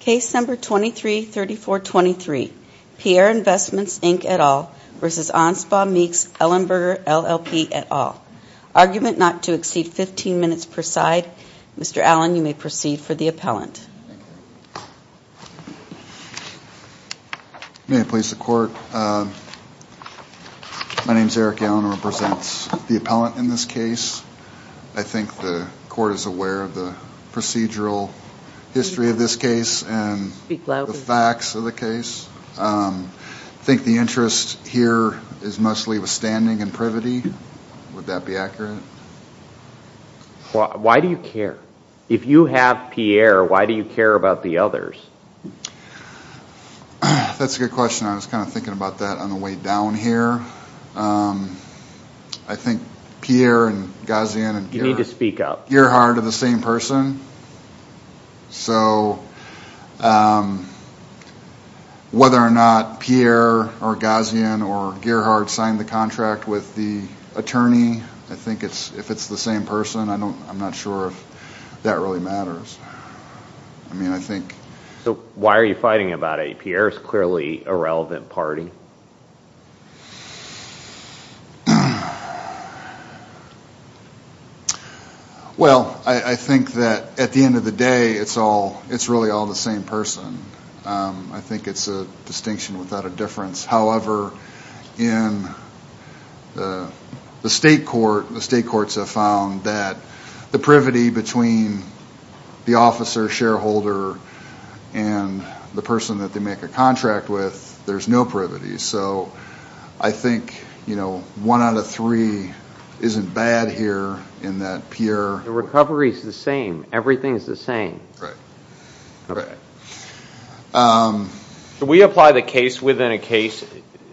Case number 233423, Pierre Investments Inc. et al. v. Anspach Meeks Ellenberger LLP et al. Argument not to exceed 15 minutes per side. Mr. Allen, you may proceed for the appellant. May I please the court? My name is Eric Allen. I represent the appellant in this case. I think the court is aware of the procedural history of this case and the facts of the case. I think the interest here is mostly with standing and privity. Would that be accurate? Why do you care? If you have Pierre, why do you care about the others? That's a good question. I was kind of thinking about that on the way down here. I think Pierre and Ghazian and Gearhart are the same person. So whether or not Pierre or Ghazian or Gearhart signed the contract with the attorney, I think if it's the same person, I'm not sure if that really matters. Why are you fighting about it? Pierre is clearly a relevant party. Well, I think that at the end of the day, it's really all the same person. I think it's a distinction without a difference. However, in the state courts have found that the privity between the officer, shareholder, and the person that they make a contract with, there's no privity. So I think one out of three isn't bad here in that Pierre... The recovery is the same. Everything is the same. Right. Do we apply the case within a case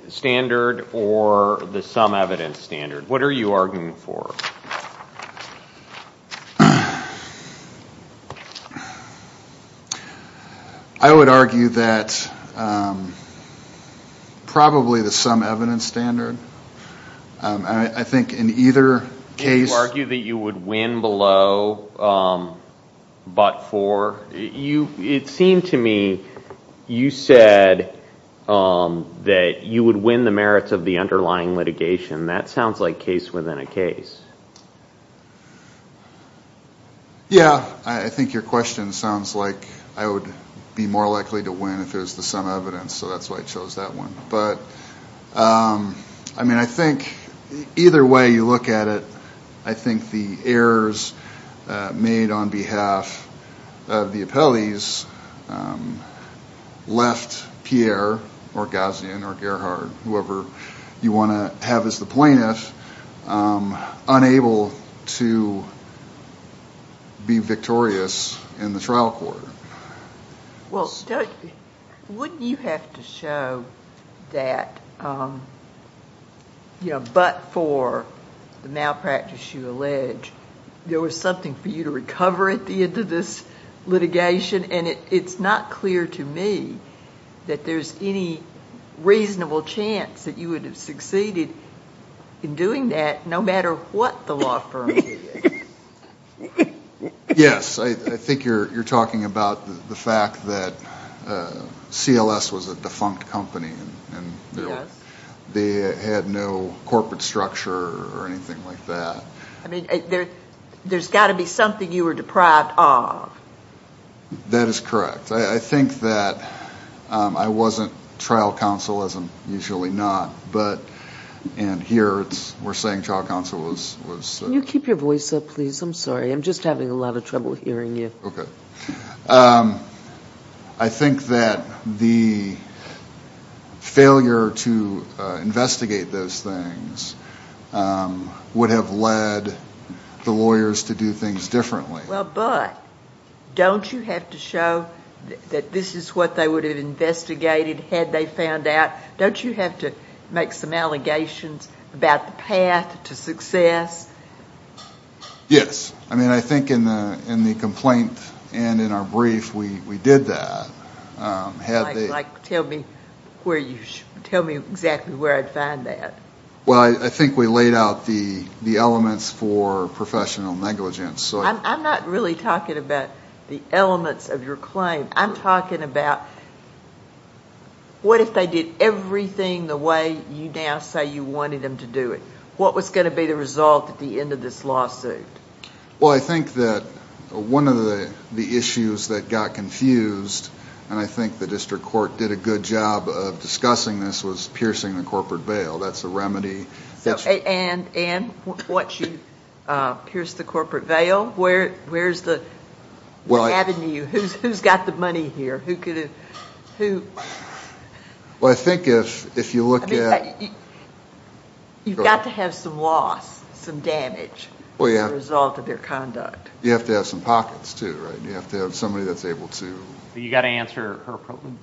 standard or the sum evidence standard? What are you arguing for? I would argue that probably the sum evidence standard. I think in either case... Can you argue that you would win below but for? It seemed to me you said that you would win the merits of the underlying litigation. That sounds like case within a case. Yeah. I think your question sounds like I would be more likely to win if it was the sum evidence. So that's why I chose that one. But I think either way you look at it, I think the errors made on behalf of the appellees left Pierre, or Gazian, or Gerhard, whoever you want to have as the plaintiff, unable to be victorious in the trial court. Well, wouldn't you have to show that but for the malpractice you allege, there was something for you to recover at the end of this litigation, and it's not clear to me that there's any reasonable chance that you would have succeeded in doing that no matter what the law firm did. Yes. I think you're talking about the fact that CLS was a defunct company. Yes. They had no corporate structure or anything like that. I mean, there's got to be something you were deprived of. That is correct. I think that I wasn't trial counsel, as I'm usually not, and here we're saying trial counsel was... Can you keep your voice up, please? I'm sorry. I'm just having a lot of trouble hearing you. Okay. I think that the failure to investigate those things would have led the lawyers to do things differently. Well, but don't you have to show that this is what they would have investigated had they found out? Don't you have to make some allegations about the path to success? Yes. I mean, I think in the complaint and in our brief we did that. Like tell me exactly where I'd find that. Well, I think we laid out the elements for professional negligence. I'm not really talking about the elements of your claim. I'm talking about what if they did everything the way you now say you wanted them to do it? What was going to be the result at the end of this lawsuit? Well, I think that one of the issues that got confused, and I think the district court did a good job of discussing this, was piercing the corporate veil. That's a remedy. And once you pierce the corporate veil, where's the avenue? Who's got the money here? Well, I think if you look at- You've got to have some loss, some damage as a result of their conduct. You have to have some pockets too, right? You have to have somebody that's able to- You've got to answer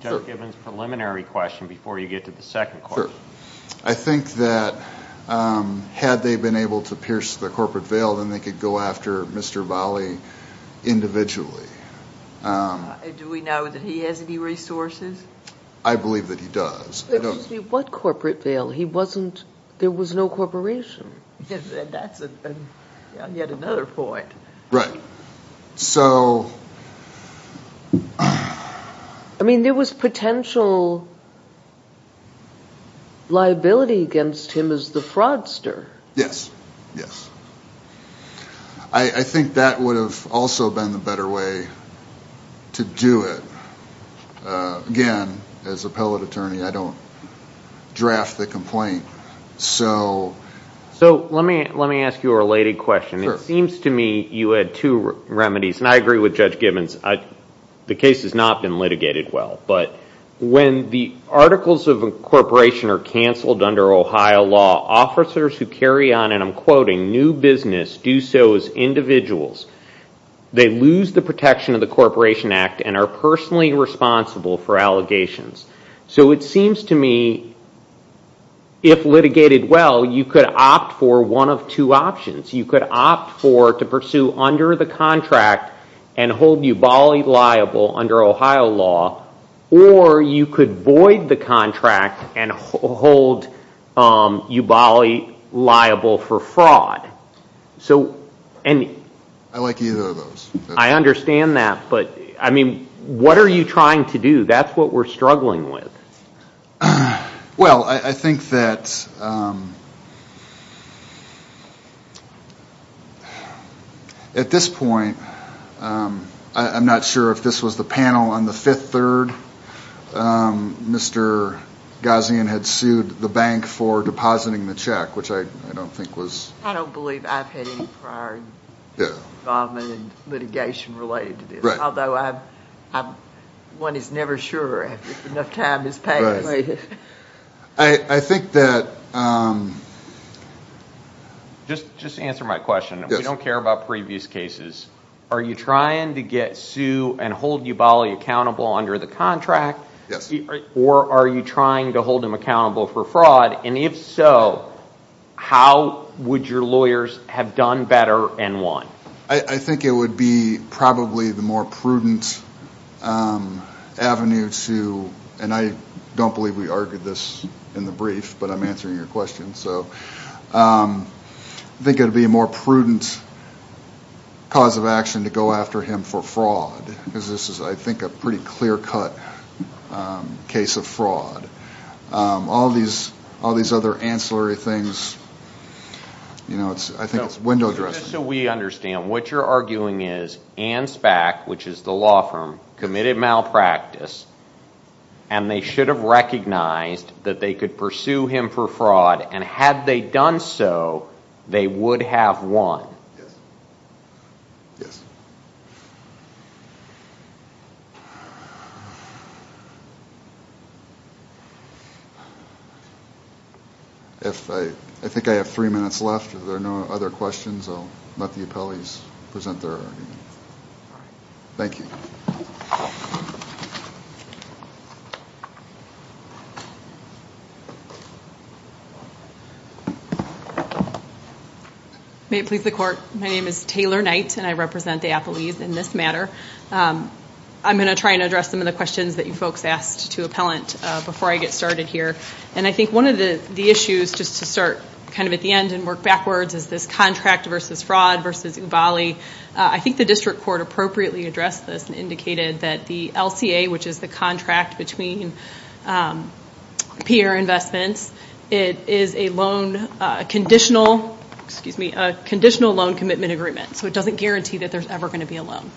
Joe Gibbons' preliminary question before you get to the second question. I think that had they been able to pierce the corporate veil, then they could go after Mr. Bali individually. Do we know that he has any resources? I believe that he does. Excuse me, what corporate veil? There was no corporation. That's yet another point. So- I mean, there was potential liability against him as the fraudster. Yes, yes. I think that would have also been the better way to do it. Again, as appellate attorney, I don't draft the complaint. So let me ask you a related question. It seems to me you had two remedies, and I agree with Judge Gibbons. The case has not been litigated well, but when the articles of incorporation are canceled under Ohio law, officers who carry on, and I'm quoting, new business do so as individuals. They lose the protection of the Corporation Act and are personally responsible for allegations. So it seems to me if litigated well, you could opt for one of two options. You could opt for to pursue under the contract and hold you Bali liable under Ohio law, or you could void the contract and hold you Bali liable for fraud. I like either of those. I understand that, but I mean, what are you trying to do? That's what we're struggling with. Well, I think that at this point, I'm not sure if this was the panel on the 5th, 3rd. Mr. Ghazian had sued the bank for depositing the check, which I don't think was. I don't believe I've had any prior involvement in litigation related to this, although one is never sure if enough time has passed. Just to answer my question, we don't care about previous cases. Are you trying to get sued and hold you Bali accountable under the contract, or are you trying to hold him accountable for fraud? And if so, how would your lawyers have done better and won? I think it would be probably the more prudent avenue to, and I don't believe we argued this in the brief, but I'm answering your question. I think it would be a more prudent cause of action to go after him for fraud, because this is, I think, a pretty clear-cut case of fraud. All these other ancillary things, I think it's window dressing. Just so we understand, what you're arguing is ANSBAC, which is the law firm, committed malpractice, and they should have recognized that they could pursue him for fraud, and had they done so, they would have won. Yes. I think I have three minutes left. If there are no other questions, I'll let the appellees present their argument. Thank you. May it please the Court. My name is Taylor Knight, and I represent the appellees in this matter. I'm going to try and address some of the questions that you folks asked to appellant before I get started here. And I think one of the issues, just to start kind of at the end and work backwards, is this contract versus fraud versus Ubali. I think the district court appropriately addressed this and indicated that the LCA, which is the contract between Pierre Investments, is a conditional loan commitment agreement, so it doesn't guarantee that there's ever going to be a loan.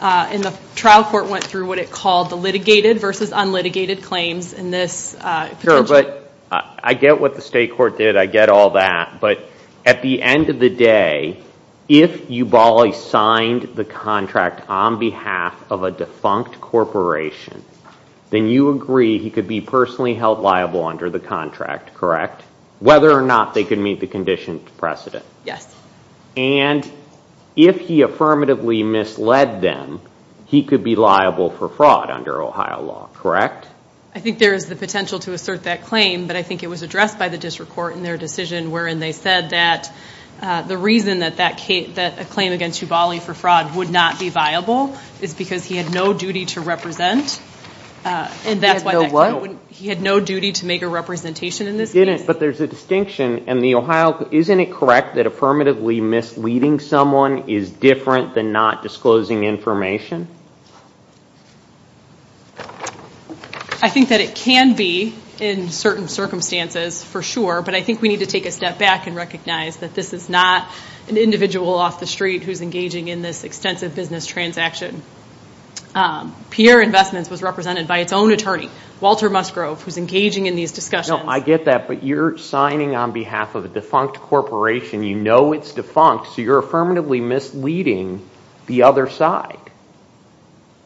And the trial court went through what it called the litigated versus unlitigated claims in this. Sure, but I get what the state court did. I get all that. But at the end of the day, if Ubali signed the contract on behalf of a defunct corporation, then you agree he could be personally held liable under the contract, correct? Whether or not they could meet the conditions precedent. Yes. And if he affirmatively misled them, he could be liable for fraud under Ohio law, correct? I think there is the potential to assert that claim, but I think it was addressed by the district court in their decision, wherein they said that the reason that a claim against Ubali for fraud would not be viable is because he had no duty to represent. He had no what? He had no duty to make a representation in this case. But there's a distinction, and the Ohio, isn't it correct that affirmatively misleading someone is different than not disclosing information? I think that it can be in certain circumstances for sure, but I think we need to take a step back and recognize that this is not an individual off the street who's engaging in this extensive business transaction. Pierre Investments was represented by its own attorney, Walter Musgrove, who's engaging in these discussions. No, I get that, but you're signing on behalf of a defunct corporation. You know it's defunct, so you're affirmatively misleading the other side.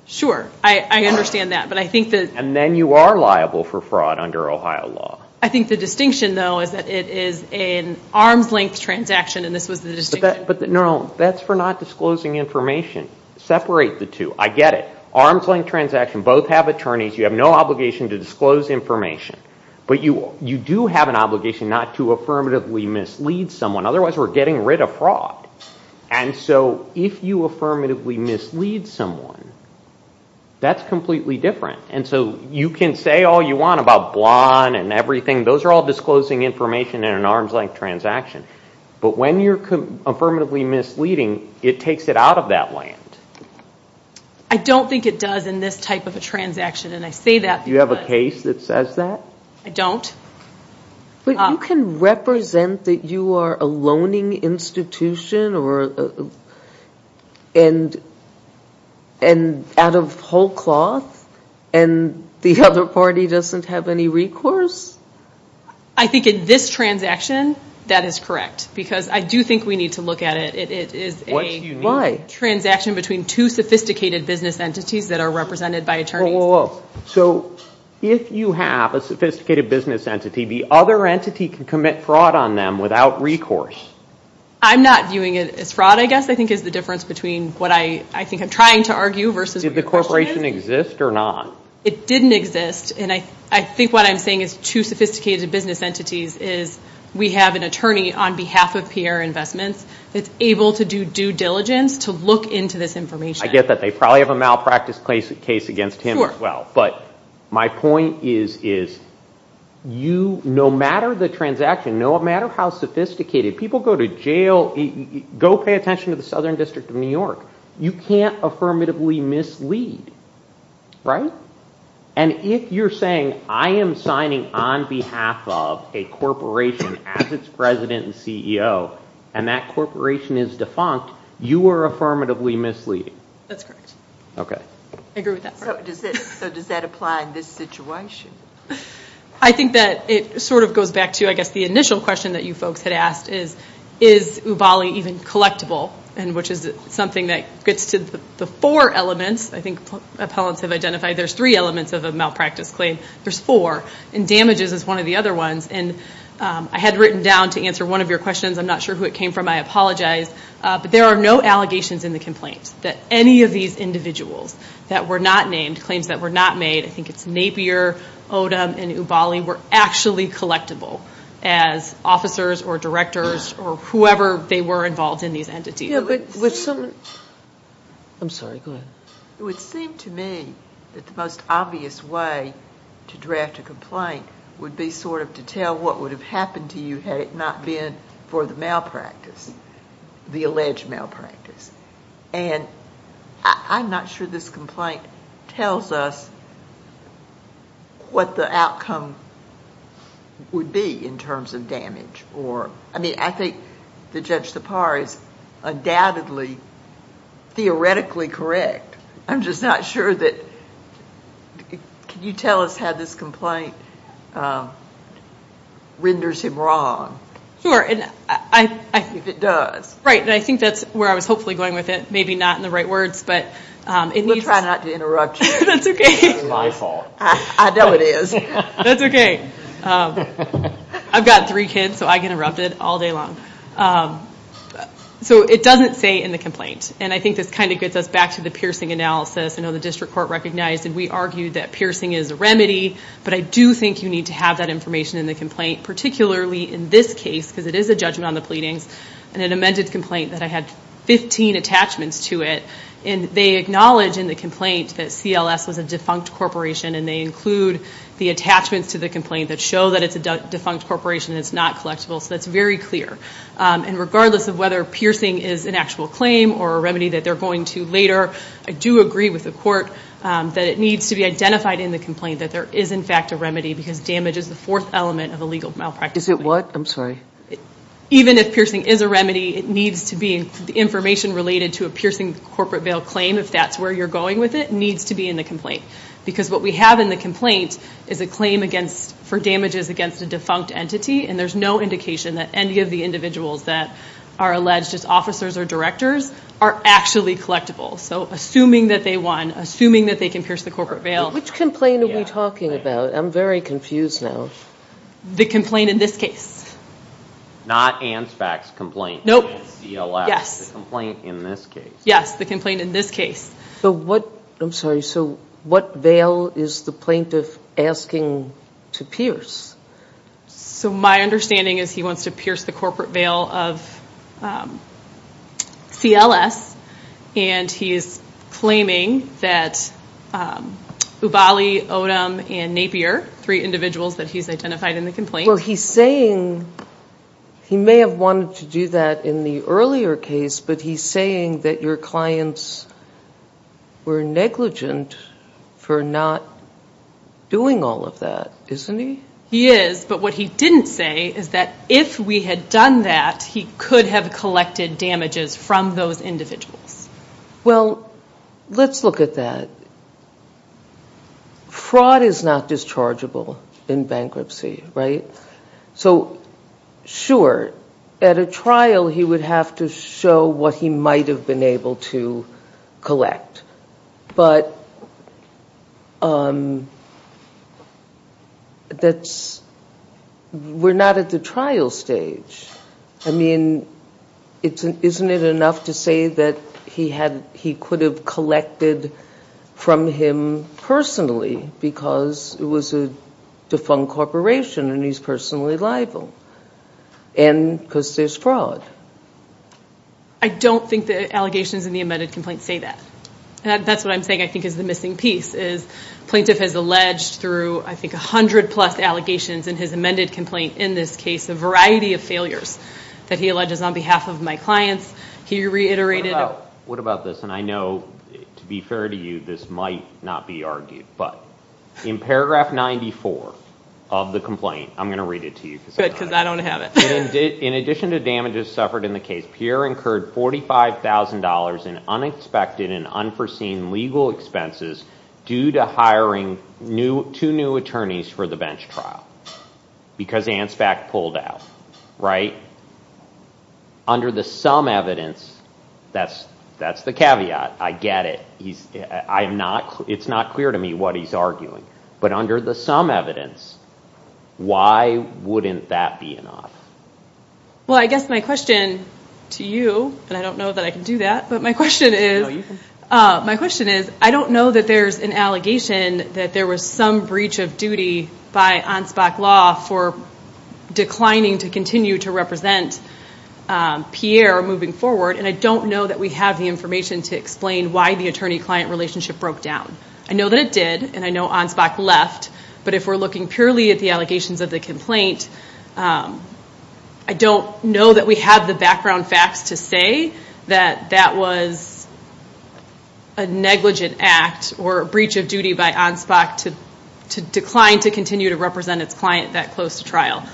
Sure, I understand that. And then you are liable for fraud under Ohio law. I think the distinction, though, is that it is an arms-length transaction, and this was the distinction. No, that's for not disclosing information. Separate the two. I get it. Arms-length transaction. Both have attorneys. You have no obligation to disclose information, but you do have an obligation not to affirmatively mislead someone. Otherwise, we're getting rid of fraud. And so if you affirmatively mislead someone, that's completely different. And so you can say all you want about Blond and everything. Those are all disclosing information in an arms-length transaction. But when you're affirmatively misleading, it takes it out of that land. I don't think it does in this type of a transaction, and I say that because— Do you have a case that says that? I don't. But you can represent that you are a loaning institution out of whole cloth, and the other party doesn't have any recourse? I think in this transaction, that is correct, because I do think we need to look at it. It is a transaction between two sophisticated business entities that are represented by attorneys. So if you have a sophisticated business entity, the other entity can commit fraud on them without recourse? I'm not viewing it as fraud, I guess, I think, is the difference between what I think I'm trying to argue versus— Did the corporation exist or not? It didn't exist. And I think what I'm saying is two sophisticated business entities is we have an attorney on behalf of Pierre Investments that's able to do due diligence to look into this information. I get that. They probably have a malpractice case against him as well. But my point is, no matter the transaction, no matter how sophisticated, people go to jail, go pay attention to the Southern District of New York. You can't affirmatively mislead, right? And if you're saying I am signing on behalf of a corporation as its president and CEO, and that corporation is defunct, you are affirmatively misleading. That's correct. Okay. I agree with that. So does that apply in this situation? I think that it sort of goes back to, I guess, the initial question that you folks had asked is, is Ubali even collectible, which is something that gets to the four elements, I think appellants have identified. There's three elements of a malpractice claim. There's four. And damages is one of the other ones. And I had written down to answer one of your questions. I'm not sure who it came from. I apologize. But there are no allegations in the complaint that any of these individuals that were not named, claims that were not made, I think it's Napier, Odom, and Ubali, were actually collectible as officers or directors or whoever they were involved in these entities. I'm sorry. Go ahead. It would seem to me that the most obvious way to draft a complaint would be sort of to tell what would have happened to you had it not been for the malpractice, the alleged malpractice. And I'm not sure this complaint tells us what the outcome would be in terms of damage. I mean, I think that Judge Tapar is undoubtedly theoretically correct. I'm just not sure that you tell us how this complaint renders him wrong. Sure. If it does. Right. And I think that's where I was hopefully going with it. Maybe not in the right words. We'll try not to interrupt you. That's okay. It's not my fault. I know it is. That's okay. I've got three kids, so I get interrupted all day long. So it doesn't say in the complaint. And I think this kind of gets us back to the piercing analysis. I know the district court recognized and we argued that piercing is a remedy, but I do think you need to have that information in the complaint, particularly in this case because it is a judgment on the pleadings and an amended complaint that I had 15 attachments to it. And they acknowledge in the complaint that CLS was a defunct corporation and they include the attachments to the complaint that show that it's a defunct corporation and it's not collectible. So that's very clear. And regardless of whether piercing is an actual claim or a remedy that they're going to later, I do agree with the court that it needs to be identified in the complaint that there is in fact a remedy because damage is the fourth element of a legal malpractice. Is it what? I'm sorry. Even if piercing is a remedy, it needs to be information related to a piercing corporate bail claim, if that's where you're going with it, needs to be in the complaint. Because what we have in the complaint is a claim for damages against a defunct entity, and there's no indication that any of the individuals that are alleged as officers or directors are actually collectible. So assuming that they won, assuming that they can pierce the corporate bail. Which complaint are we talking about? I'm very confused now. The complaint in this case. Not ANSFAC's complaint. Nope. CLS. Yes. The complaint in this case. Yes, the complaint in this case. So what, I'm sorry, so what bail is the plaintiff asking to pierce? So my understanding is he wants to pierce the corporate bail of CLS, and he is claiming that Ubali, Odom, and Napier, three individuals that he's identified in the complaint. Well, he's saying he may have wanted to do that in the earlier case, but he's saying that your clients were negligent for not doing all of that, isn't he? He is, but what he didn't say is that if we had done that, he could have collected damages from those individuals. Well, let's look at that. Fraud is not dischargeable in bankruptcy, right? So, sure, at a trial he would have to show what he might have been able to collect, but we're not at the trial stage. I mean, isn't it enough to say that he could have collected from him personally because it was a defunct corporation and he's personally liable? And because there's fraud. I don't think the allegations in the amended complaint say that. That's what I'm saying, I think, is the missing piece, is plaintiff has alleged through, I think, 100-plus allegations in his amended complaint in this case, a variety of failures that he alleges on behalf of my clients. What about this? And I know, to be fair to you, this might not be argued, but in paragraph 94 of the complaint, I'm going to read it to you. Good, because I don't have it. In addition to damages suffered in the case, Pierre incurred $45,000 in unexpected and unforeseen legal expenses due to hiring two new attorneys for the bench trial, because Anspach pulled out, right? Under the some evidence, that's the caveat. I get it. It's not clear to me what he's arguing. But under the some evidence, why wouldn't that be enough? Well, I guess my question to you, and I don't know that I can do that, but my question is, I don't know that there's an allegation that there was some breach of duty by Anspach Law for declining to continue to represent Pierre moving forward, and I don't know that we have the information to explain why the attorney-client relationship broke down. I know that it did, and I know Anspach left, but if we're looking purely at the allegations of the complaint, I don't know that we have the background facts to say that that was a negligent act or a breach of duty by Anspach to decline to continue to represent its client that close to trial.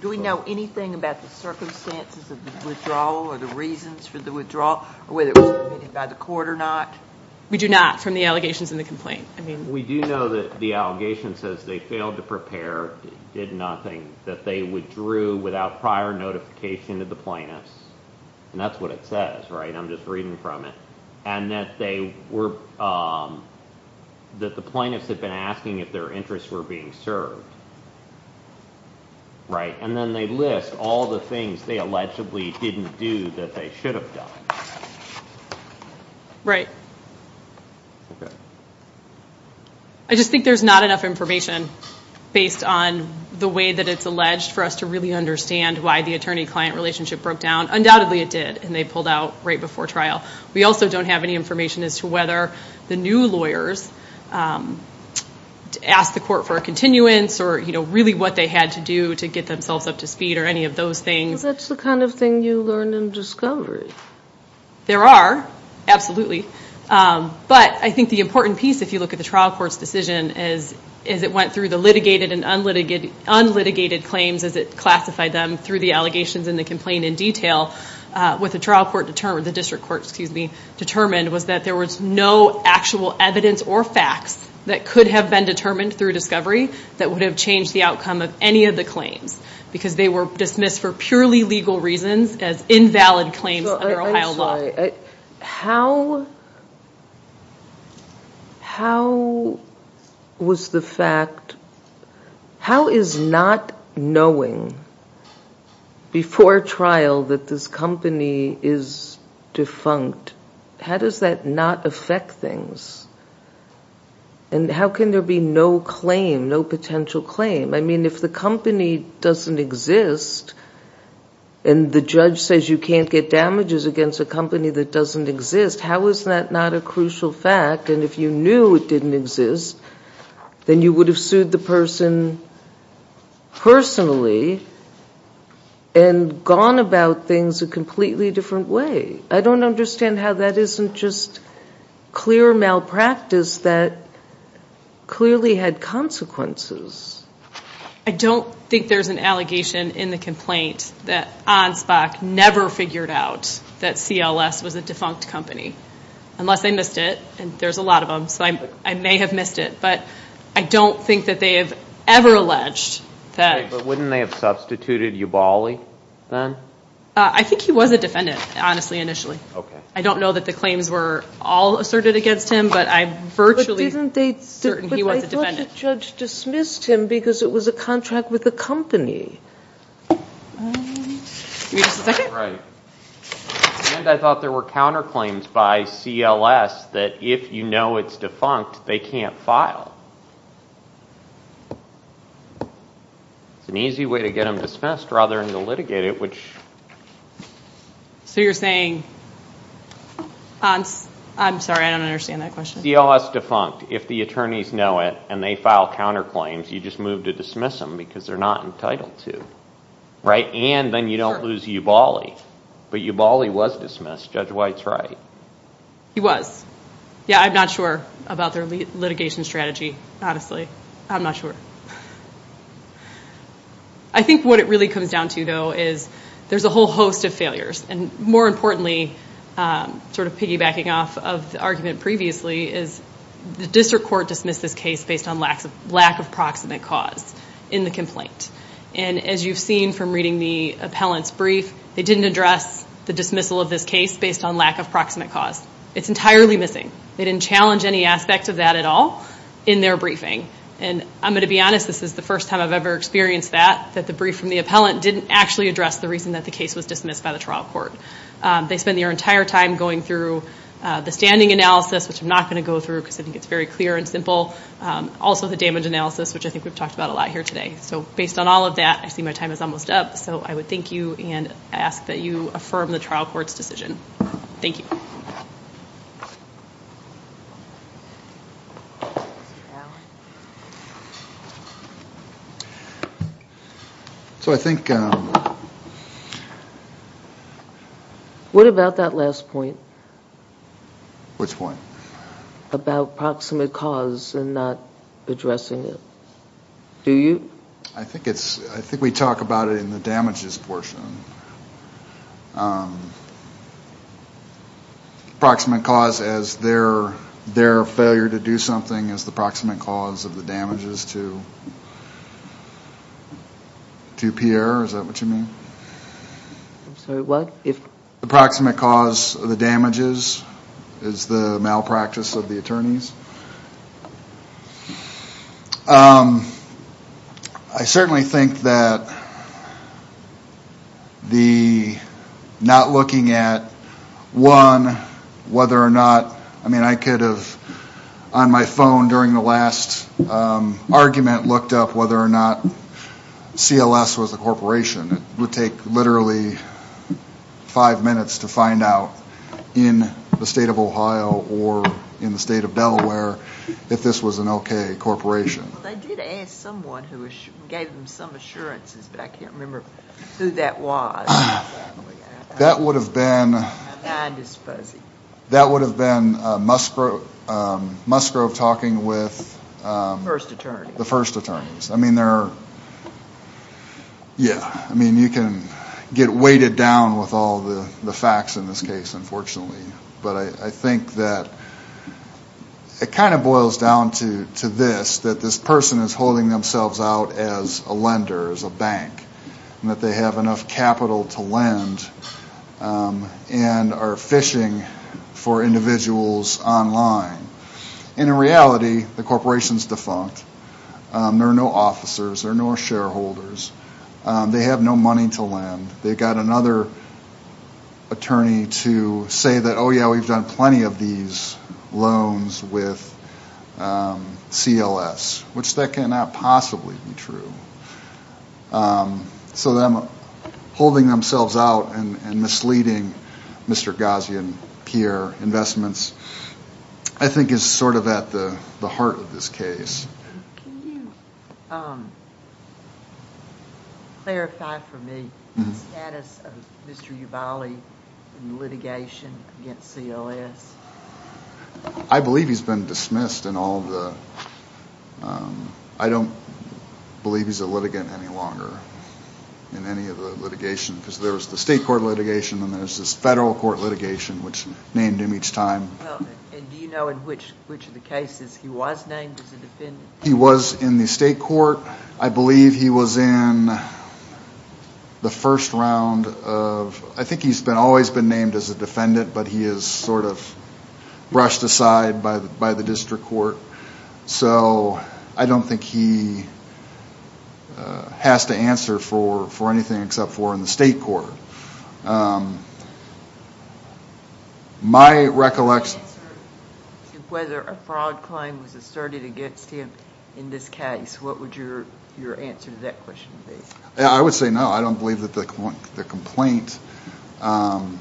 Do we know anything about the circumstances of the withdrawal or the reasons for the withdrawal or whether it was committed by the court or not? We do not from the allegations in the complaint. We do know that the allegation says they failed to prepare, did nothing, that they withdrew without prior notification of the plaintiffs, and that's what it says, right? I'm just reading from it. And that the plaintiffs had been asking if their interests were being served, right? And then they list all the things they allegedly didn't do that they should have done. Right. I just think there's not enough information based on the way that it's alleged for us to really understand why the attorney-client relationship broke down. Undoubtedly it did, and they pulled out right before trial. We also don't have any information as to whether the new lawyers asked the court for a continuance or really what they had to do to get themselves up to speed or any of those things. Because that's the kind of thing you learn in discovery. There are, absolutely. But I think the important piece, if you look at the trial court's decision, as it went through the litigated and unlitigated claims as it classified them through the allegations in the complaint in detail, what the district court determined was that there was no actual evidence or facts that could have been determined through discovery that would have changed the outcome of any of the claims. Because they were dismissed for purely legal reasons as invalid claims under Ohio law. I'm sorry. How was the fact, how is not knowing before trial that this company is defunct, how does that not affect things? And how can there be no claim, no potential claim? I mean, if the company doesn't exist and the judge says you can't get damages against a company that doesn't exist, how is that not a crucial fact? And if you knew it didn't exist, then you would have sued the person personally and gone about things a completely different way. I don't understand how that isn't just clear malpractice that clearly had consequences. I don't think there's an allegation in the complaint that Anspach never figured out that CLS was a defunct company, unless they missed it, and there's a lot of them, so I may have missed it. But I don't think that they have ever alleged that. But wouldn't they have substituted Ubali then? I think he was a defendant, honestly, initially. I don't know that the claims were all asserted against him, but I virtually... But didn't they say he was a defendant? But I thought the judge dismissed him because it was a contract with the company. Give me just a second. Right. And I thought there were counterclaims by CLS that if you know it's defunct, they can't file. It's an easy way to get them dismissed rather than to litigate it, which... So you're saying... I'm sorry, I don't understand that question. CLS defunct, if the attorneys know it and they file counterclaims, you just move to dismiss them because they're not entitled to, right? And then you don't lose Ubali. But Ubali was dismissed. Judge White's right. He was. Yeah, I'm not sure about their litigation strategy. I'm not sure. I think what it really comes down to, though, is there's a whole host of failures. And more importantly, sort of piggybacking off of the argument previously, is the district court dismissed this case based on lack of proximate cause in the complaint. And as you've seen from reading the appellant's brief, they didn't address the dismissal of this case based on lack of proximate cause. It's entirely missing. They didn't challenge any aspect of that at all in their briefing. And I'm going to be honest, this is the first time I've ever experienced that, that the brief from the appellant didn't actually address the reason that the case was dismissed by the trial court. They spent their entire time going through the standing analysis, which I'm not going to go through because I think it's very clear and simple, also the damage analysis, which I think we've talked about a lot here today. So based on all of that, I see my time is almost up. So I would thank you and ask that you affirm the trial court's decision. Thank you. What about that last point? Which point? About proximate cause and not addressing it. Do you? I think we talk about it in the damages portion. Proximate cause as their failure to do something is the proximate cause of the damages to Pierre. Is that what you mean? I'm sorry, what? The proximate cause of the damages is the malpractice of the attorneys. I certainly think that the not looking at, one, whether or not, I mean, I could have on my phone during the last argument looked up whether or not CLS was a corporation. It would take literally five minutes to find out in the state of Ohio or in the state of Delaware if this was an okay corporation. They did ask someone who gave them some assurances, but I can't remember who that was. That would have been Musgrove talking with the first attorneys. I mean, there are, yeah, I mean, you can get weighted down with all the facts in this case, unfortunately. But I think that it kind of boils down to this, that this person is holding themselves out as a lender, as a bank, and that they have enough capital to lend and are fishing for individuals online. And in reality, the corporation is defunct. There are no officers. There are no shareholders. They have no money to lend. They've got another attorney to say that, oh, yeah, we've done plenty of these loans with CLS, which that cannot possibly be true. So them holding themselves out and misleading Mr. Ghazi and Pierre Investments, I think, is sort of at the heart of this case. Can you clarify for me the status of Mr. Yuvali in litigation against CLS? I believe he's been dismissed in all of the ‑‑ I don't believe he's a litigant any longer in any of the litigation, because there was the state court litigation and there's this federal court litigation, which named him each time. And do you know in which of the cases he was named as a defendant? He was in the state court. I believe he was in the first round of ‑‑ I think he's always been named as a defendant, but he is sort of brushed aside by the district court. So I don't think he has to answer for anything except for in the state court. My recollection ‑‑ If you could answer whether a fraud claim was asserted against him in this case, what would your answer to that question be? I would say no. I don't believe that the complaint ‑‑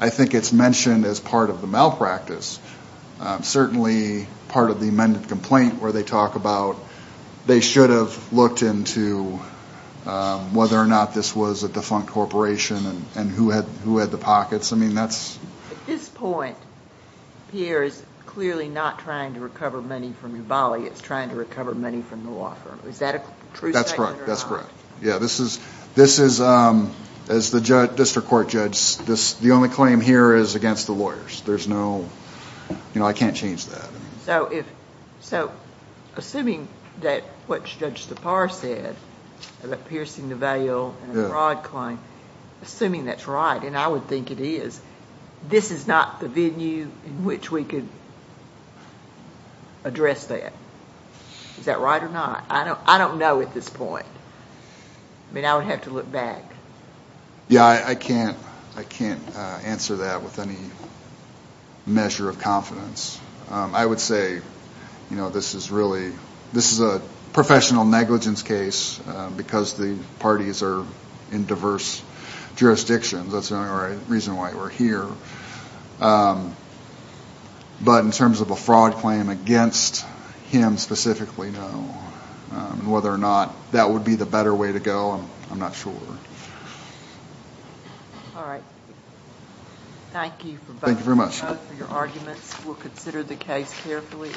I think it's mentioned as part of the malpractice. Certainly part of the amended complaint where they talk about they should have looked into whether or not this was a defunct corporation and who had the pockets. I mean, that's ‑‑ At this point, Pierre is clearly not trying to recover money from Yuvali. It's trying to recover money from the law firm. Is that a true statement or not? That's correct. Yeah, this is ‑‑ as the district court judge, the only claim here is against the lawyers. There's no ‑‑ you know, I can't change that. So assuming that what Judge Sipar said about piercing the veil and the fraud claim, assuming that's right, and I would think it is, this is not the venue in which we could address that. Is that right or not? I don't know at this point. I mean, I would have to look back. Yeah, I can't answer that with any measure of confidence. I would say, you know, this is really ‑‑ this is a professional negligence case because the parties are in diverse jurisdictions. That's the only reason why we're here. But in terms of a fraud claim against him specifically, no. Whether or not that would be the better way to go, I'm not sure. All right. Thank you for both of your arguments. We'll consider the case carefully.